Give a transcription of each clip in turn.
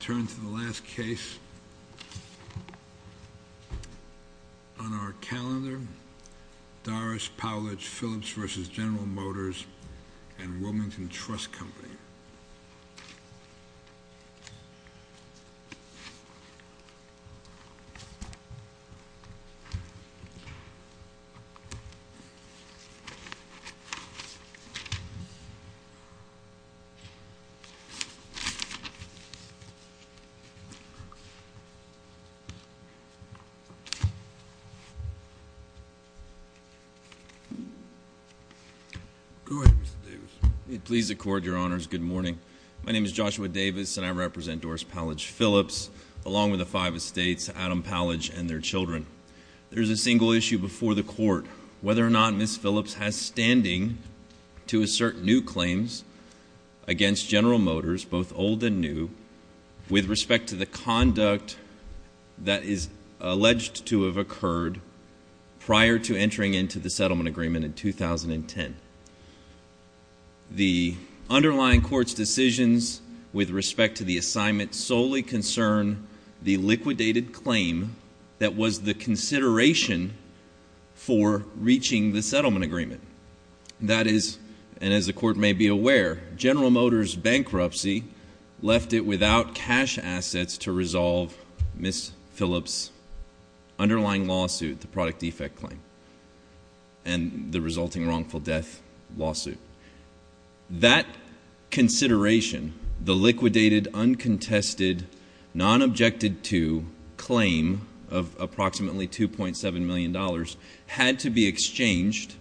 We turn to the last case on our calendar, Doris Powledge Phillips v. General Motors and Wilmington Trust Company. Go ahead, Mr. Davis. Please accord, Your Honors. Good morning. My name is Joshua Davis, and I represent Doris Powledge Phillips along with the five estates, Adam Powledge, and their children. There's a single issue before the court, whether or not Ms. Phillips has standing to assert new claims against General Motors, both old and new, with respect to the conduct that is alleged to have occurred prior to entering into the settlement agreement in 2010. The underlying court's decisions with respect to the assignment solely concern the liquidated claim that was the consideration for reaching the settlement agreement. That is, and as the court may be aware, General Motors bankruptcy left it without cash assets to resolve Ms. Phillips' underlying lawsuit, the product defect claim, and the resulting wrongful death lawsuit. That consideration, the liquidated, uncontested, non-objected to claim of approximately $2.7 million, had to be exchanged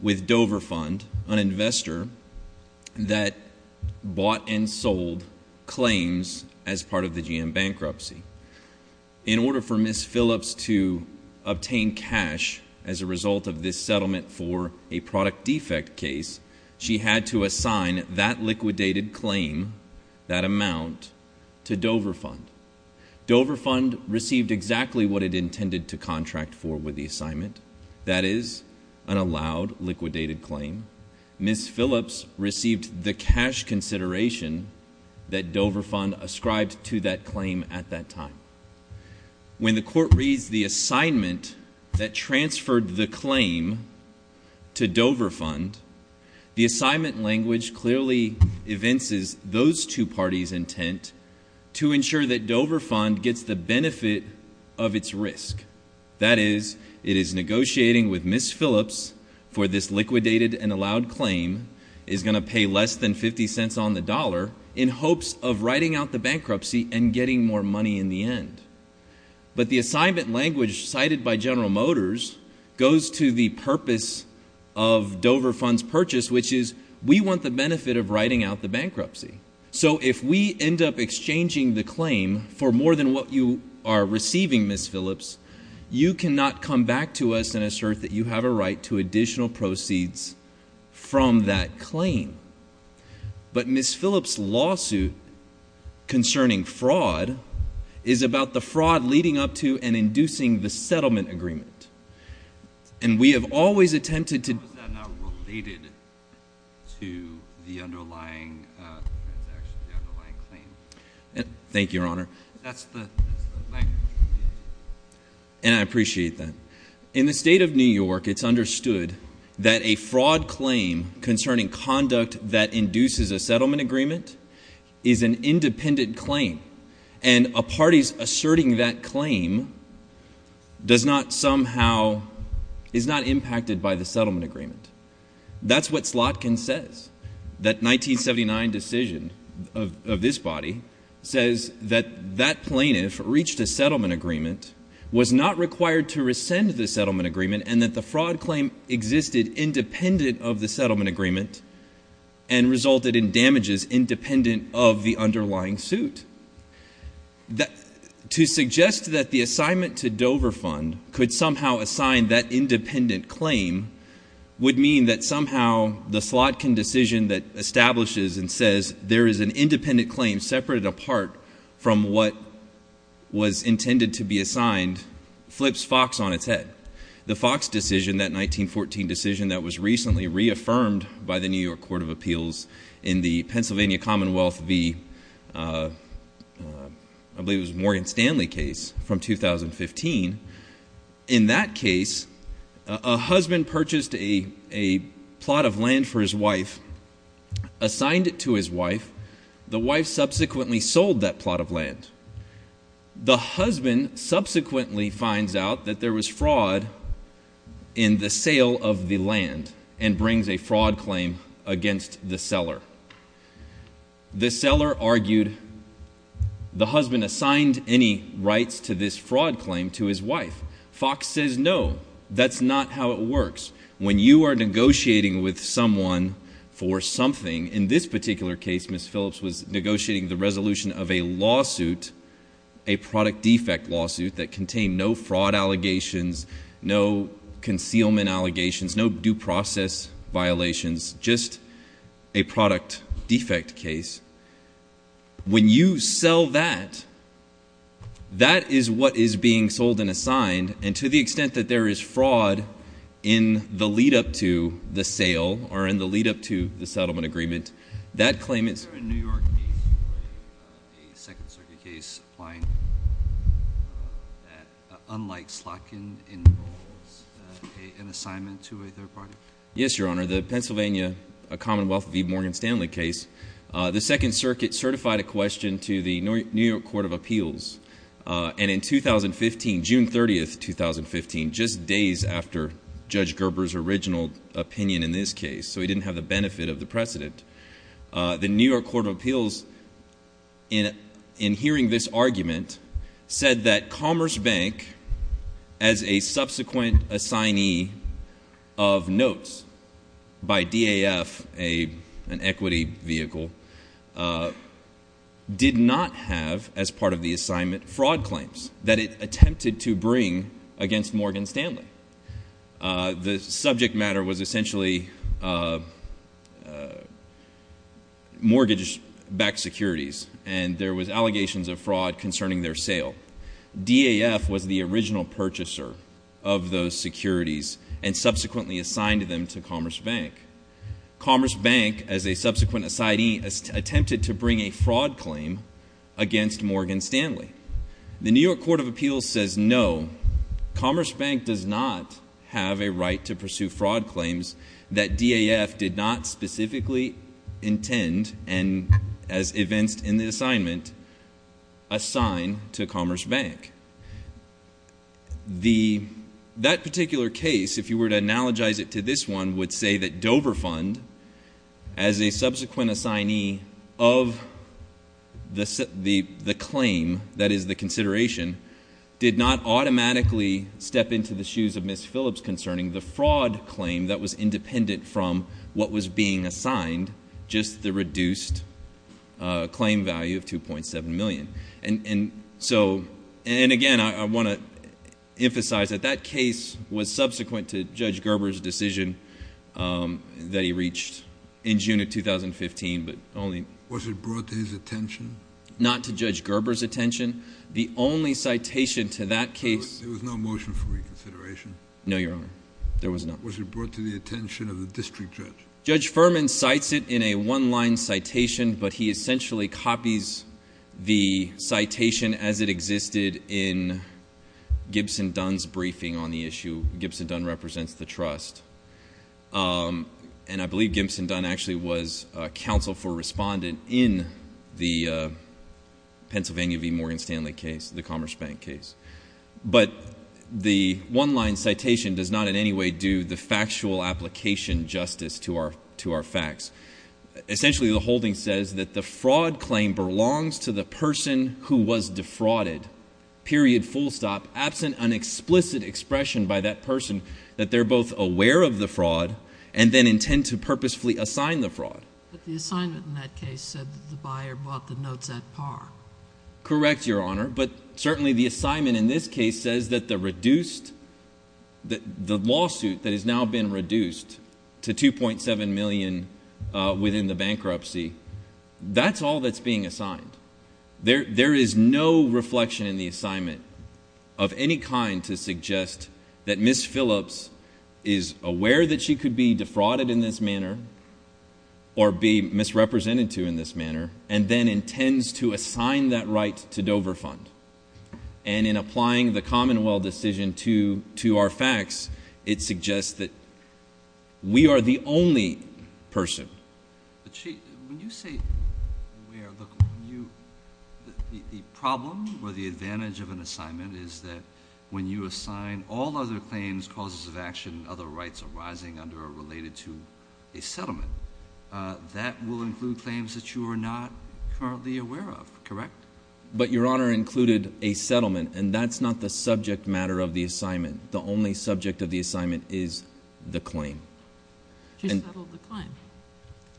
with Dover Fund, an investor that bought and sold claims as part of the GM bankruptcy. In order for Ms. Phillips to obtain cash as a result of this settlement for a product defect case, she had to assign that liquidated claim, that amount, to Dover Fund. Dover Fund received exactly what it intended to contract for with the assignment. That is, an allowed liquidated claim. Ms. Phillips received the cash consideration that Dover Fund ascribed to that claim at that time. When the court reads the assignment that transferred the claim to Dover Fund, the assignment language clearly evinces those two parties' intent to ensure that Dover Fund gets the benefit of its risk. That is, it is negotiating with Ms. Phillips for this liquidated and allowed claim, is going to pay less than 50 cents on the dollar, in hopes of writing out the bankruptcy and getting more money in the end. But the assignment language cited by General Motors goes to the purpose of Dover Fund's purchase, which is, we want the benefit of writing out the bankruptcy. So if we end up exchanging the claim for more than what you are receiving, Ms. Phillips, you cannot come back to us and assert that you have a right to additional proceeds from that claim. But Ms. Phillips' lawsuit concerning fraud is about the fraud leading up to and inducing the settlement agreement. And we have always attempted to- How is that now related to the underlying transaction, the underlying claim? Thank you, Your Honor. That's the language you're using. And I appreciate that. In the state of New York, it's understood that a fraud claim concerning conduct that induces a settlement agreement is an independent claim. And a party's asserting that claim does not somehow-is not impacted by the settlement agreement. That's what Slotkin says. That 1979 decision of this body says that that plaintiff reached a settlement agreement, was not required to rescind the settlement agreement, and that the fraud claim existed independent of the settlement agreement and resulted in damages independent of the underlying suit. To suggest that the assignment to Dover Fund could somehow assign that independent claim would mean that somehow the Slotkin decision that establishes and says there is an independent claim separated apart from what was intended to be assigned flips Fox on its head. The Fox decision, that 1914 decision that was recently reaffirmed by the New York Court of Appeals in the Pennsylvania Commonwealth v. I believe it was Morgan Stanley case from 2015. In that case, a husband purchased a plot of land for his wife, assigned it to his wife. The wife subsequently sold that plot of land. The husband subsequently finds out that there was fraud in the sale of the land and brings a fraud claim against the seller. The seller argued the husband assigned any rights to this fraud claim to his wife. Fox says no, that's not how it works. When you are negotiating with someone for something, in this particular case Ms. Phillips was negotiating the resolution of a lawsuit, a product defect lawsuit that contained no fraud allegations, no concealment allegations, no due process violations, just a product defect case. When you sell that, that is what is being sold and assigned. And to the extent that there is fraud in the lead up to the sale or in the lead up to the settlement agreement, that claim is- A Second Circuit case applying that, unlike Slotkin, involves an assignment to a third party? Yes, Your Honor. The Pennsylvania Commonwealth v. Morgan Stanley case, the Second Circuit certified a question to the New York Court of Appeals. And in 2015, June 30th, 2015, just days after Judge Gerber's original opinion in this case, so he didn't have the benefit of the precedent, the New York Court of Appeals, in hearing this argument, said that Commerce Bank, as a subsequent assignee of notes by DAF, an equity vehicle, did not have, as part of the assignment, fraud claims that it attempted to bring against Morgan Stanley. The subject matter was essentially mortgage-backed securities, and there was allegations of fraud concerning their sale. DAF was the original purchaser of those securities and subsequently assigned them to Commerce Bank. Commerce Bank, as a subsequent assignee, attempted to bring a fraud claim against Morgan Stanley. The New York Court of Appeals says no, Commerce Bank does not have a right to pursue fraud claims that DAF did not specifically intend and, as evinced in the assignment, assign to Commerce Bank. That particular case, if you were to analogize it to this one, would say that Dover Fund, as a subsequent assignee of the claim that is the consideration, did not automatically step into the shoes of Ms. Phillips concerning the fraud claim that was independent from what was being assigned, just the reduced claim value of $2.7 million. And again, I want to emphasize that that case was subsequent to Judge Gerber's decision that he reached in June of 2015, but only— Was it brought to his attention? Not to Judge Gerber's attention. The only citation to that case— There was no motion for reconsideration? No, Your Honor. There was not. Was it brought to the attention of the district judge? Judge Furman cites it in a one-line citation, but he essentially copies the citation as it existed in Gibson Dunn's briefing on the issue. Gibson Dunn represents the trust, and I believe Gibson Dunn actually was counsel for respondent in the Pennsylvania v. Morgan Stanley case, the Commerce Bank case. But the one-line citation does not in any way do the factual application justice to our facts. Essentially, the holding says that the fraud claim belongs to the person who was defrauded, period, full stop, absent an explicit expression by that person that they're both aware of the fraud and then intend to purposefully assign the fraud. But the assignment in that case said that the buyer bought the notes at par. Correct, Your Honor, but certainly the assignment in this case says that the reduced— the lawsuit that has now been reduced to $2.7 million within the bankruptcy, that's all that's being assigned. There is no reflection in the assignment of any kind to suggest that Ms. Phillips is aware that she could be defrauded in this manner or be misrepresented to in this manner and then intends to assign that right to Dover Fund. And in applying the Commonwealth decision to our facts, it suggests that we are the only person. But Chief, when you say the problem or the advantage of an assignment is that when you assign all other claims, causes of action, other rights arising under or related to a settlement, that will include claims that you are not currently aware of, correct? But, Your Honor, included a settlement, and that's not the subject matter of the assignment. The only subject of the assignment is the claim. She settled the claim.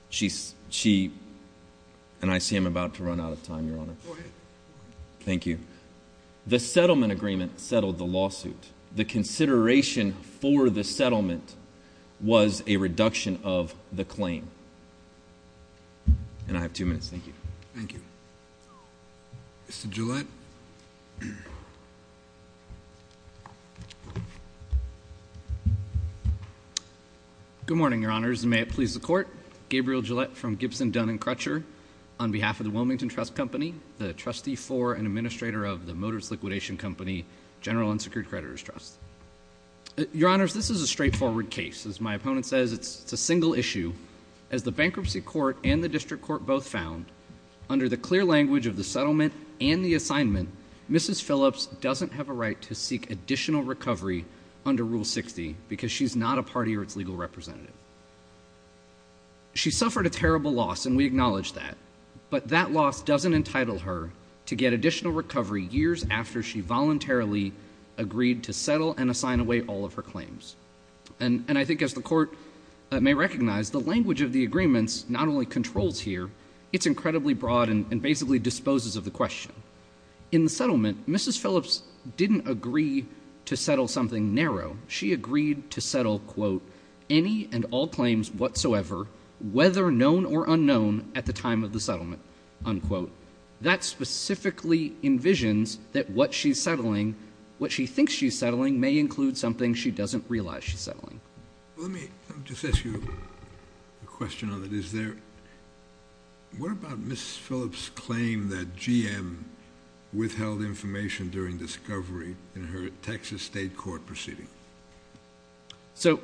She—and I see I'm about to run out of time, Your Honor. Go ahead. Thank you. The settlement agreement settled the lawsuit. The consideration for the settlement was a reduction of the claim. And I have two minutes. Thank you. Thank you. Mr. Gillette. Good morning, Your Honors, and may it please the Court. Gabriel Gillette from Gibson, Dunn & Crutcher on behalf of the Wilmington Trust Company, the trustee for and administrator of the Motors Liquidation Company General Unsecured Creditors Trust. Your Honors, this is a straightforward case. As my opponent says, it's a single issue. As the bankruptcy court and the district court both found, under the clear language of the settlement and the assignment, Mrs. Phillips doesn't have a right to seek additional recovery under Rule 60 because she's not a party or its legal representative. She suffered a terrible loss, and we acknowledge that. But that loss doesn't entitle her to get additional recovery years after she voluntarily agreed to settle and assign away all of her claims. And I think as the Court may recognize, the language of the agreements not only controls here, it's incredibly broad and basically disposes of the question. In the settlement, Mrs. Phillips didn't agree to settle something narrow. She agreed to settle, quote, any and all claims whatsoever, whether known or unknown, at the time of the settlement, unquote. That specifically envisions that what she's settling, what she thinks she's settling, may include something she doesn't realize she's settling. Let me just ask you a question on that. What about Mrs. Phillips' claim that GM withheld information during discovery in her Texas state court proceeding? So,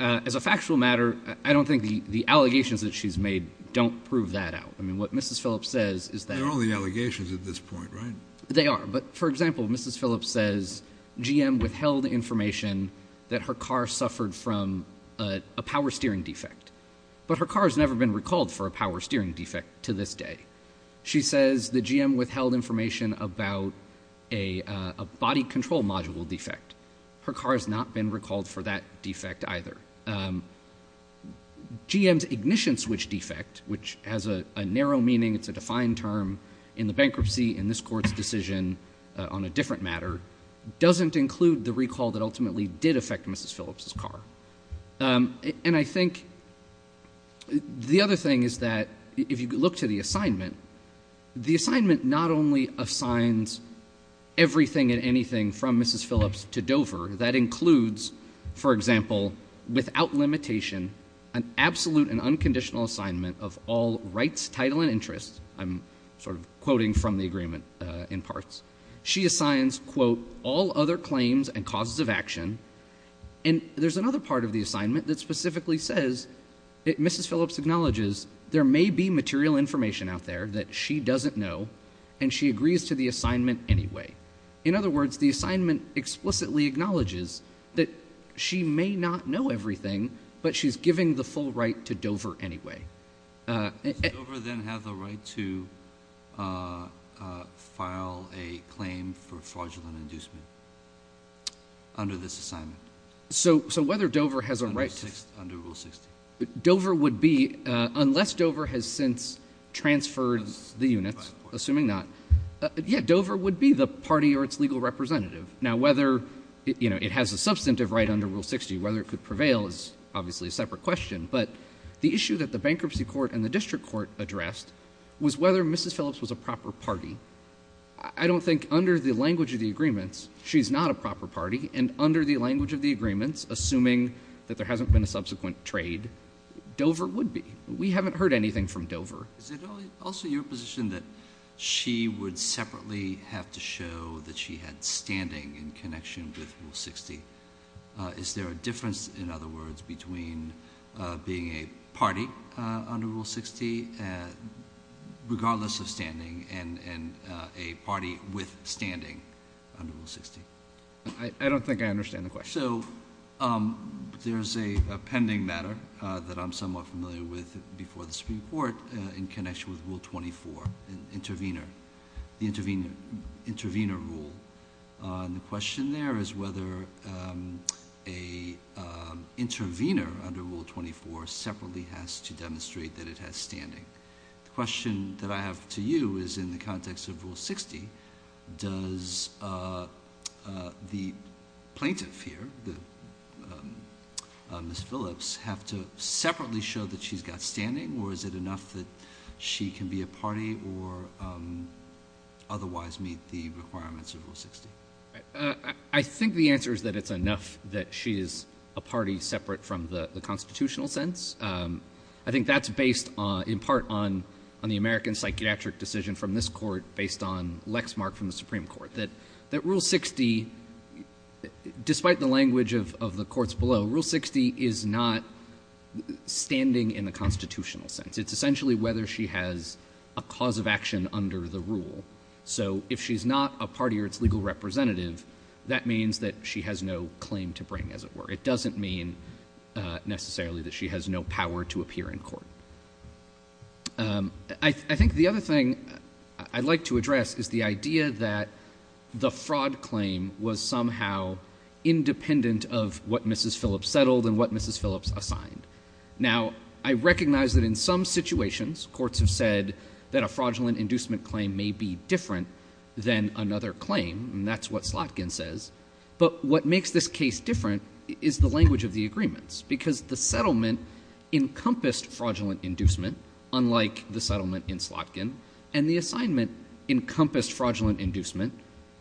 as a factual matter, I don't think the allegations that she's made don't prove that out. I mean, what Mrs. Phillips says is that— They're only allegations at this point, right? They are. But, for example, Mrs. Phillips says GM withheld information that her car suffered from a power steering defect. But her car has never been recalled for a power steering defect to this day. She says that GM withheld information about a body control module defect. Her car has not been recalled for that defect either. GM's ignition switch defect, which has a narrow meaning, it's a defined term, in the bankruptcy in this Court's decision on a different matter, doesn't include the recall that ultimately did affect Mrs. Phillips' car. And I think the other thing is that if you look to the assignment, the assignment not only assigns everything and anything from Mrs. Phillips to Dover. That includes, for example, without limitation, an absolute and unconditional assignment of all rights, title, and interests. I'm sort of quoting from the agreement in parts. She assigns, quote, all other claims and causes of action. And there's another part of the assignment that specifically says that Mrs. Phillips acknowledges there may be material information out there that she doesn't know, and she agrees to the assignment anyway. In other words, the assignment explicitly acknowledges that she may not know everything, but she's giving the full right to Dover anyway. Does Dover then have the right to file a claim for fraudulent inducement under this assignment? So whether Dover has a right to— Under Rule 60. Dover would be—unless Dover has since transferred the units, assuming not. Yeah, Dover would be the party or its legal representative. Now, whether it has a substantive right under Rule 60, whether it could prevail, is obviously a separate question. But the issue that the bankruptcy court and the district court addressed was whether Mrs. Phillips was a proper party. I don't think, under the language of the agreements, she's not a proper party. And under the language of the agreements, assuming that there hasn't been a subsequent trade, Dover would be. We haven't heard anything from Dover. Is it also your position that she would separately have to show that she had standing in connection with Rule 60? Is there a difference, in other words, between being a party under Rule 60, regardless of standing, and a party with standing under Rule 60? I don't think I understand the question. So there's a pending matter that I'm somewhat familiar with before this report in connection with Rule 24, the intervener rule. And the question there is whether an intervener under Rule 24 separately has to demonstrate that it has standing. The question that I have to you is, in the context of Rule 60, does the plaintiff here, Ms. Phillips, have to separately show that she's got standing? Or is it enough that she can be a party or otherwise meet the requirements of Rule 60? I think the answer is that it's enough that she is a party separate from the constitutional sense. I think that's based in part on the American psychiatric decision from this court based on Lexmark from the Supreme Court. That Rule 60, despite the language of the courts below, Rule 60 is not standing in the constitutional sense. It's essentially whether she has a cause of action under the rule. So if she's not a party or its legal representative, that means that she has no claim to bring, as it were. It doesn't mean necessarily that she has no power to appear in court. I think the other thing I'd like to address is the idea that the fraud claim was somehow independent of what Mrs. Phillips settled and what Mrs. Phillips assigned. Now, I recognize that in some situations courts have said that a fraudulent inducement claim may be different than another claim, and that's what Slotkin says. But what makes this case different is the language of the agreements, because the settlement encompassed fraudulent inducement, unlike the settlement in Slotkin, and the assignment encompassed fraudulent inducement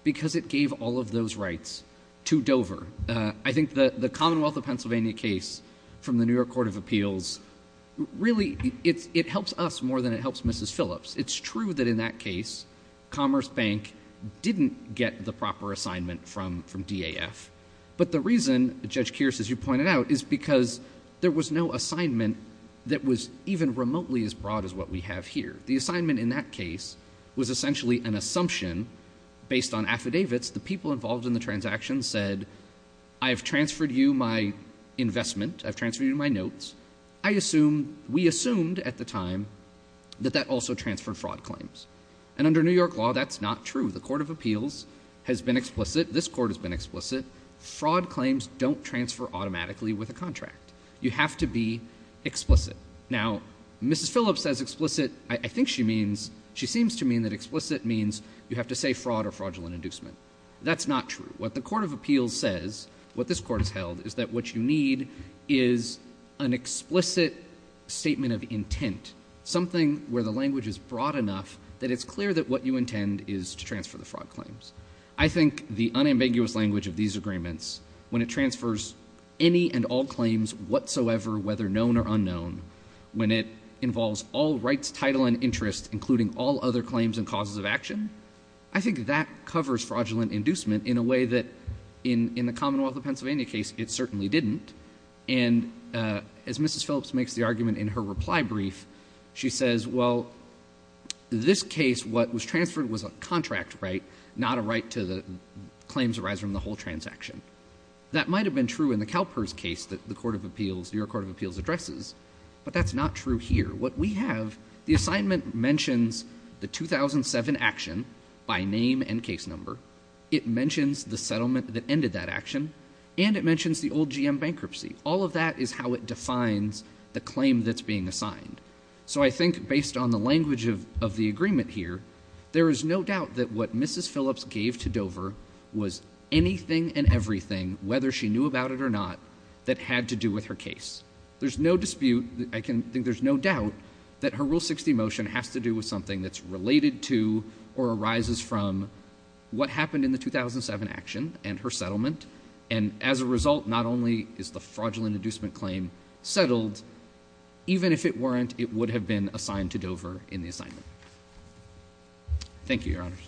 because it gave all of those rights to Dover. I think the Commonwealth of Pennsylvania case from the New York Court of Appeals, really, it helps us more than it helps Mrs. Phillips. It's true that in that case Commerce Bank didn't get the proper assignment from DAF. But the reason, Judge Kearse, as you pointed out, is because there was no assignment that was even remotely as broad as what we have here. The assignment in that case was essentially an assumption based on affidavits. The people involved in the transaction said, I've transferred you my investment. I've transferred you my notes. I assume, we assumed at the time that that also transferred fraud claims. And under New York law, that's not true. The Court of Appeals has been explicit. This Court has been explicit. Fraud claims don't transfer automatically with a contract. You have to be explicit. Now, Mrs. Phillips says explicit. I think she means, she seems to mean that explicit means you have to say fraud or fraudulent inducement. That's not true. What the Court of Appeals says, what this Court has held, is that what you need is an explicit statement of intent, something where the language is broad enough that it's clear that what you intend is to transfer the fraud claims. I think the unambiguous language of these agreements, when it transfers any and all claims whatsoever, whether known or unknown, when it involves all rights, title, and interests, including all other claims and causes of action, I think that covers fraudulent inducement in a way that in the Commonwealth of Pennsylvania case, it certainly didn't. And as Mrs. Phillips makes the argument in her reply brief, she says, well, this case, what was transferred was a contract right, not a right to the claims arising from the whole transaction. That might have been true in the CalPERS case that the Court of Appeals, New York Court of Appeals, addresses. But that's not true here. What we have, the assignment mentions the 2007 action by name and case number. It mentions the settlement that ended that action. And it mentions the old GM bankruptcy. All of that is how it defines the claim that's being assigned. So I think based on the language of the agreement here, there is no doubt that what Mrs. Phillips gave to Dover was anything and everything, whether she knew about it or not, that had to do with her case. There's no dispute, I think there's no doubt that her Rule 60 motion has to do with something that's related to or arises from what happened in the 2007 action and her settlement. And as a result, not only is the fraudulent inducement claim settled, even if it weren't, it would have been assigned to Dover in the assignment. Thank you, Your Honors.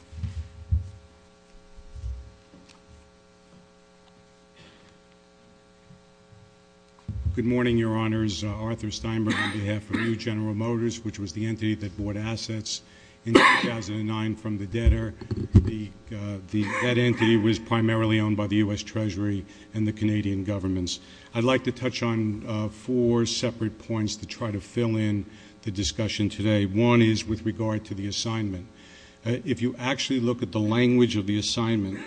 Arthur Steinberg. Good morning, Your Honors. Arthur Steinberg on behalf of New General Motors, which was the entity that bought assets in 2009 from the debtor. That entity was primarily owned by the U.S. Treasury and the Canadian governments. I'd like to touch on four separate points to try to fill in the discussion today. One is with regard to the assignment. If you actually look at the language of the assignment,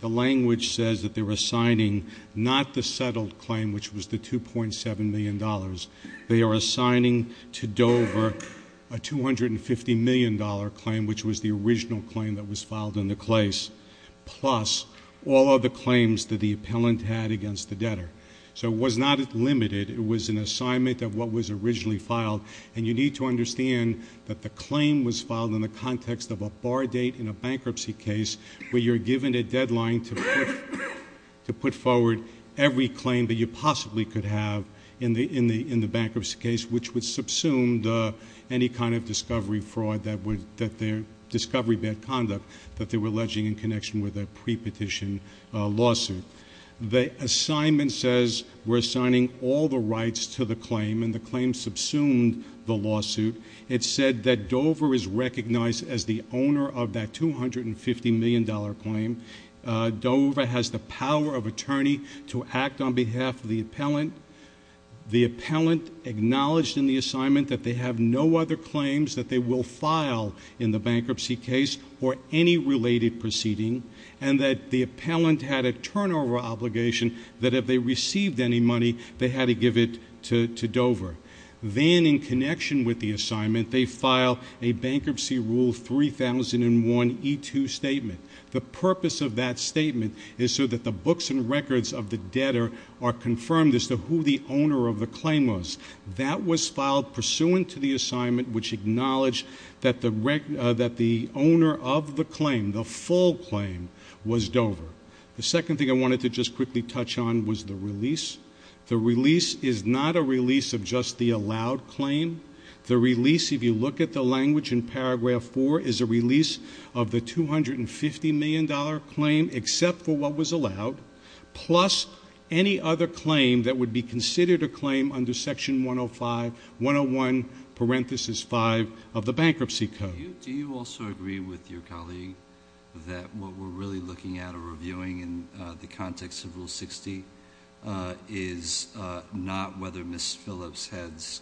the language says that they're assigning not the settled claim, which was the $2.7 million, they are assigning to Dover a $250 million claim, which was the original claim that was filed in the case, plus all other claims that the appellant had against the debtor. So it was not limited, it was an assignment of what was originally filed, and you need to understand that the claim was filed in the context of a bar date in a bankruptcy case where you're given a deadline to put forward every claim that you possibly could have in the bankruptcy case, which would subsume any kind of discovery fraud that their discovery of bad conduct that they were alleging in connection with a pre-petition lawsuit. The assignment says we're assigning all the rights to the claim, and the claim subsumed the lawsuit. It said that Dover is recognized as the owner of that $250 million claim. Dover has the power of attorney to act on behalf of the appellant. The appellant acknowledged in the assignment that they have no other claims that they will file in the bankruptcy case or any related proceeding, and that the appellant had a turnover obligation that if they received any money, they had to give it to Dover. Then in connection with the assignment, they file a Bankruptcy Rule 3001E2 statement. The purpose of that statement is so that the books and records of the debtor are confirmed as to who the owner of the claim was. That was filed pursuant to the assignment, which acknowledged that the owner of the claim, the full claim, was Dover. The second thing I wanted to just quickly touch on was the release. The release is not a release of just the allowed claim. The release, if you look at the language in paragraph 4, is a release of the $250 million claim except for what was allowed, plus any other claim that would be considered a claim under Section 105, 101, parenthesis 5 of the Bankruptcy Code. Do you also agree with your colleague that what we're really looking at or reviewing in the context of Rule 60 is not whether Ms. Phillips has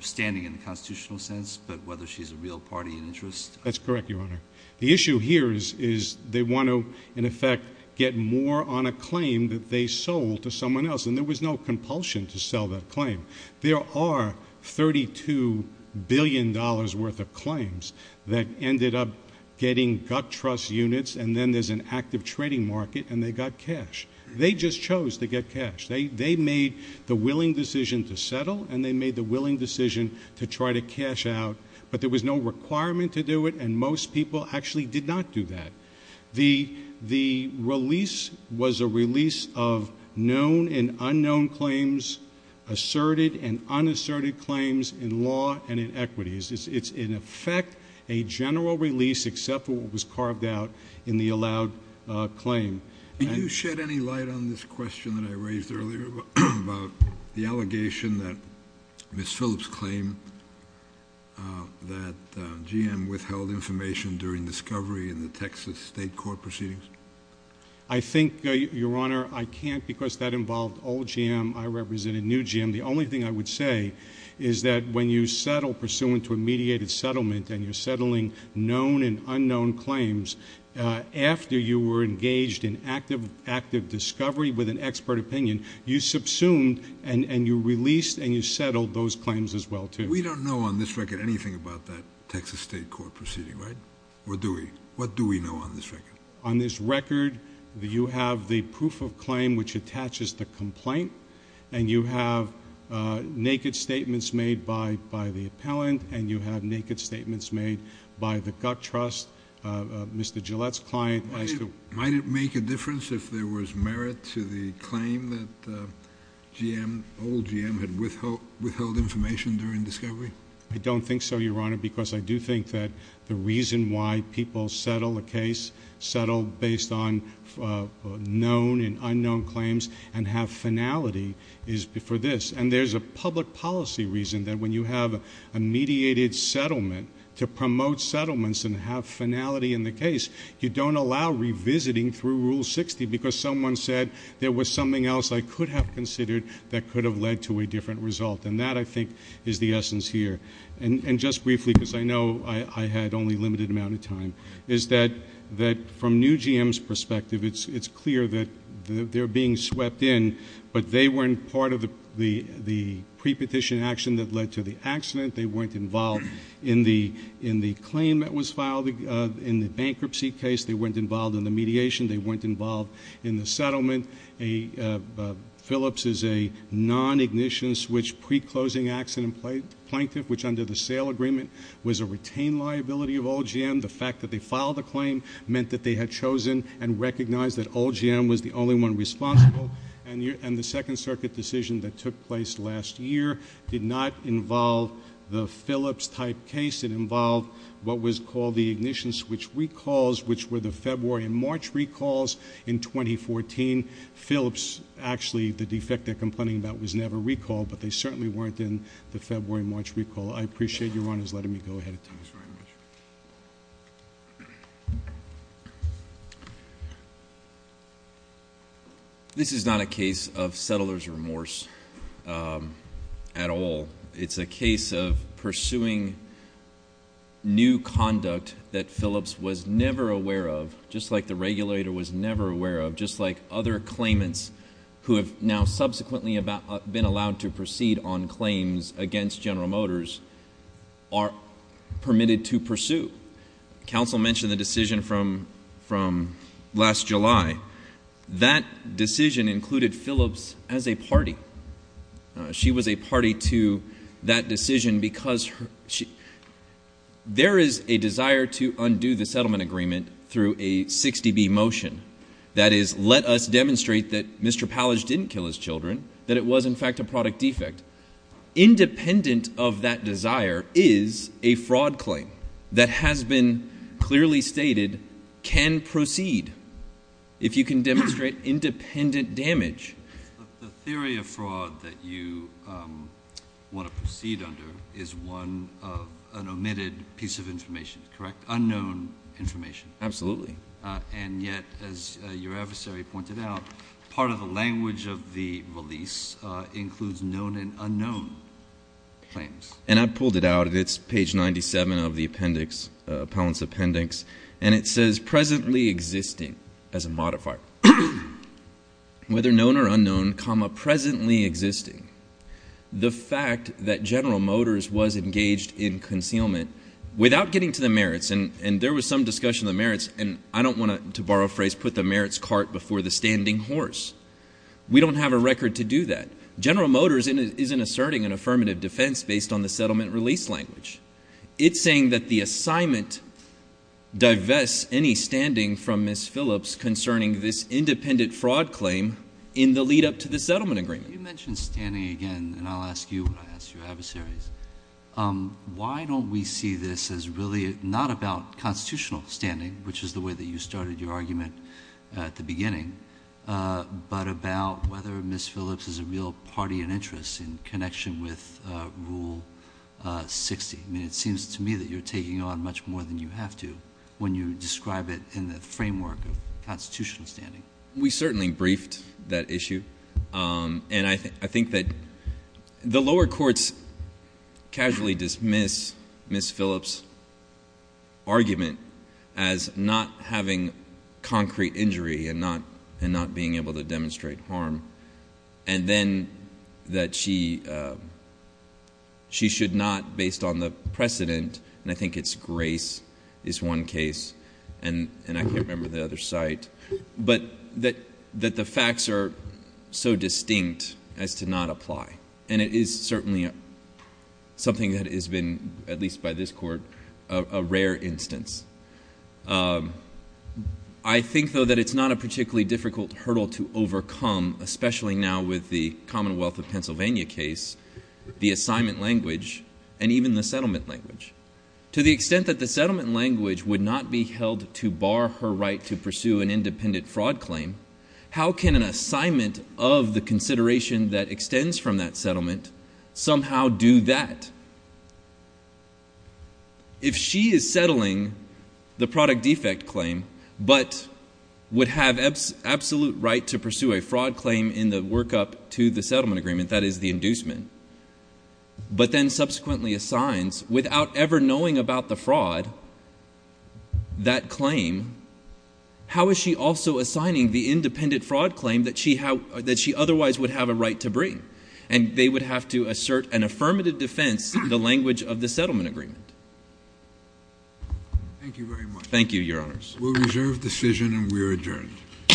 standing in the constitutional sense, but whether she's a real party in interest? That's correct, Your Honor. The issue here is they want to, in effect, get more on a claim that they sold to someone else, and there was no compulsion to sell that claim. There are $32 billion worth of claims that ended up getting gut trust units, and then there's an active trading market, and they got cash. They just chose to get cash. They made the willing decision to settle, and they made the willing decision to try to cash out, but there was no requirement to do it, and most people actually did not do that. The release was a release of known and unknown claims, asserted and unasserted claims in law and in equities. It's, in effect, a general release except for what was carved out in the allowed claim. Did you shed any light on this question that I raised earlier about the allegation that Ms. Phillips claimed that GM withheld information during discovery in the Texas state court proceedings? I think, Your Honor, I can't because that involved old GM. I represented new GM. The only thing I would say is that when you settle pursuant to a mediated settlement and you're settling known and unknown claims after you were engaged in active discovery with an expert opinion, you subsumed and you released and you settled those claims as well too. We don't know on this record anything about that Texas state court proceeding, right, or do we? What do we know on this record? On this record, you have the proof of claim which attaches the complaint, and you have naked statements made by the appellant, and you have naked statements made by the gut trust, Mr. Gillette's client. Might it make a difference if there was merit to the claim that GM, old GM, had withheld information during discovery? I don't think so, Your Honor, because I do think that the reason why people settle a case, settle based on known and unknown claims and have finality is for this, and there's a public policy reason that when you have a mediated settlement to promote settlements and have finality in the case, you don't allow revisiting through Rule 60 because someone said there was something else I could have considered that could have led to a different result, and that, I think, is the essence here. And just briefly, because I know I had only a limited amount of time, is that from new GM's perspective, it's clear that they're being swept in, but they weren't part of the prepetition action that led to the accident. They weren't involved in the claim that was filed in the bankruptcy case. They weren't involved in the mediation. They weren't involved in the settlement. Phillips is a non-ignition switch pre-closing accident plaintiff, which under the sale agreement was a retained liability of old GM. The fact that they filed a claim meant that they had chosen and recognized that old GM was the only one responsible, and the Second Circuit decision that took place last year did not involve the Phillips-type case. It involved what was called the ignition switch recalls, which were the February and March recalls in 2014. Phillips, actually, the defect they're complaining about was never recalled, but they certainly weren't in the February and March recall. I appreciate Your Honor's letting me go ahead. Thank you very much. This is not a case of settler's remorse at all. It's a case of pursuing new conduct that Phillips was never aware of, just like the regulator was never aware of, just like other claimants who have now subsequently been allowed to proceed on claims against General Motors are permitted to pursue. Counsel mentioned the decision from last July. She was a party to that decision because there is a desire to undo the settlement agreement through a 60B motion, that is, let us demonstrate that Mr. Pallage didn't kill his children, that it was, in fact, a product defect. Independent of that desire is a fraud claim that has been clearly stated can proceed if you can demonstrate independent damage. The theory of fraud that you want to proceed under is one of an omitted piece of information, correct? Unknown information. Absolutely. And yet, as your adversary pointed out, part of the language of the release includes known and unknown claims. And I pulled it out. It's page 97 of the appendix, appellant's appendix, and it says presently existing as a modifier. Whether known or unknown, presently existing. The fact that General Motors was engaged in concealment without getting to the merits, and there was some discussion of the merits, and I don't want to borrow a phrase, put the merits cart before the standing horse. We don't have a record to do that. General Motors isn't asserting an affirmative defense based on the settlement release language. It's saying that the assignment divests any standing from Ms. Phillips concerning this independent fraud claim in the lead up to the settlement agreement. You mentioned standing again, and I'll ask you what I ask your adversaries. Why don't we see this as really not about constitutional standing, which is the way that you started your argument at the beginning, but about whether Ms. Phillips is a real party and interest in connection with Rule 60? I mean, it seems to me that you're taking on much more than you have to when you describe it in the framework of constitutional standing. We certainly briefed that issue, and I think that the lower courts casually dismiss Ms. Phillips' argument as not having concrete injury and not being able to demonstrate harm, and then that she should not, based on the precedent, and I think it's Grace is one case, and I can't remember the other site, but that the facts are so distinct as to not apply, and it is certainly something that has been, at least by this court, a rare instance. I think, though, that it's not a particularly difficult hurdle to overcome, especially now with the Commonwealth of Pennsylvania case, the assignment language, and even the settlement language. To the extent that the settlement language would not be held to bar her right to pursue an independent fraud claim, how can an assignment of the consideration that extends from that settlement somehow do that? If she is settling the product defect claim but would have absolute right to pursue a fraud claim in the workup to the settlement agreement, that is the inducement, but then subsequently assigns, without ever knowing about the fraud, that claim, how is she also assigning the independent fraud claim that she otherwise would have a right to bring? And they would have to assert an affirmative defense in the language of the settlement agreement. Thank you very much. Thank you, Your Honors. We'll reserve the decision, and we are adjourned. Court is adjourned.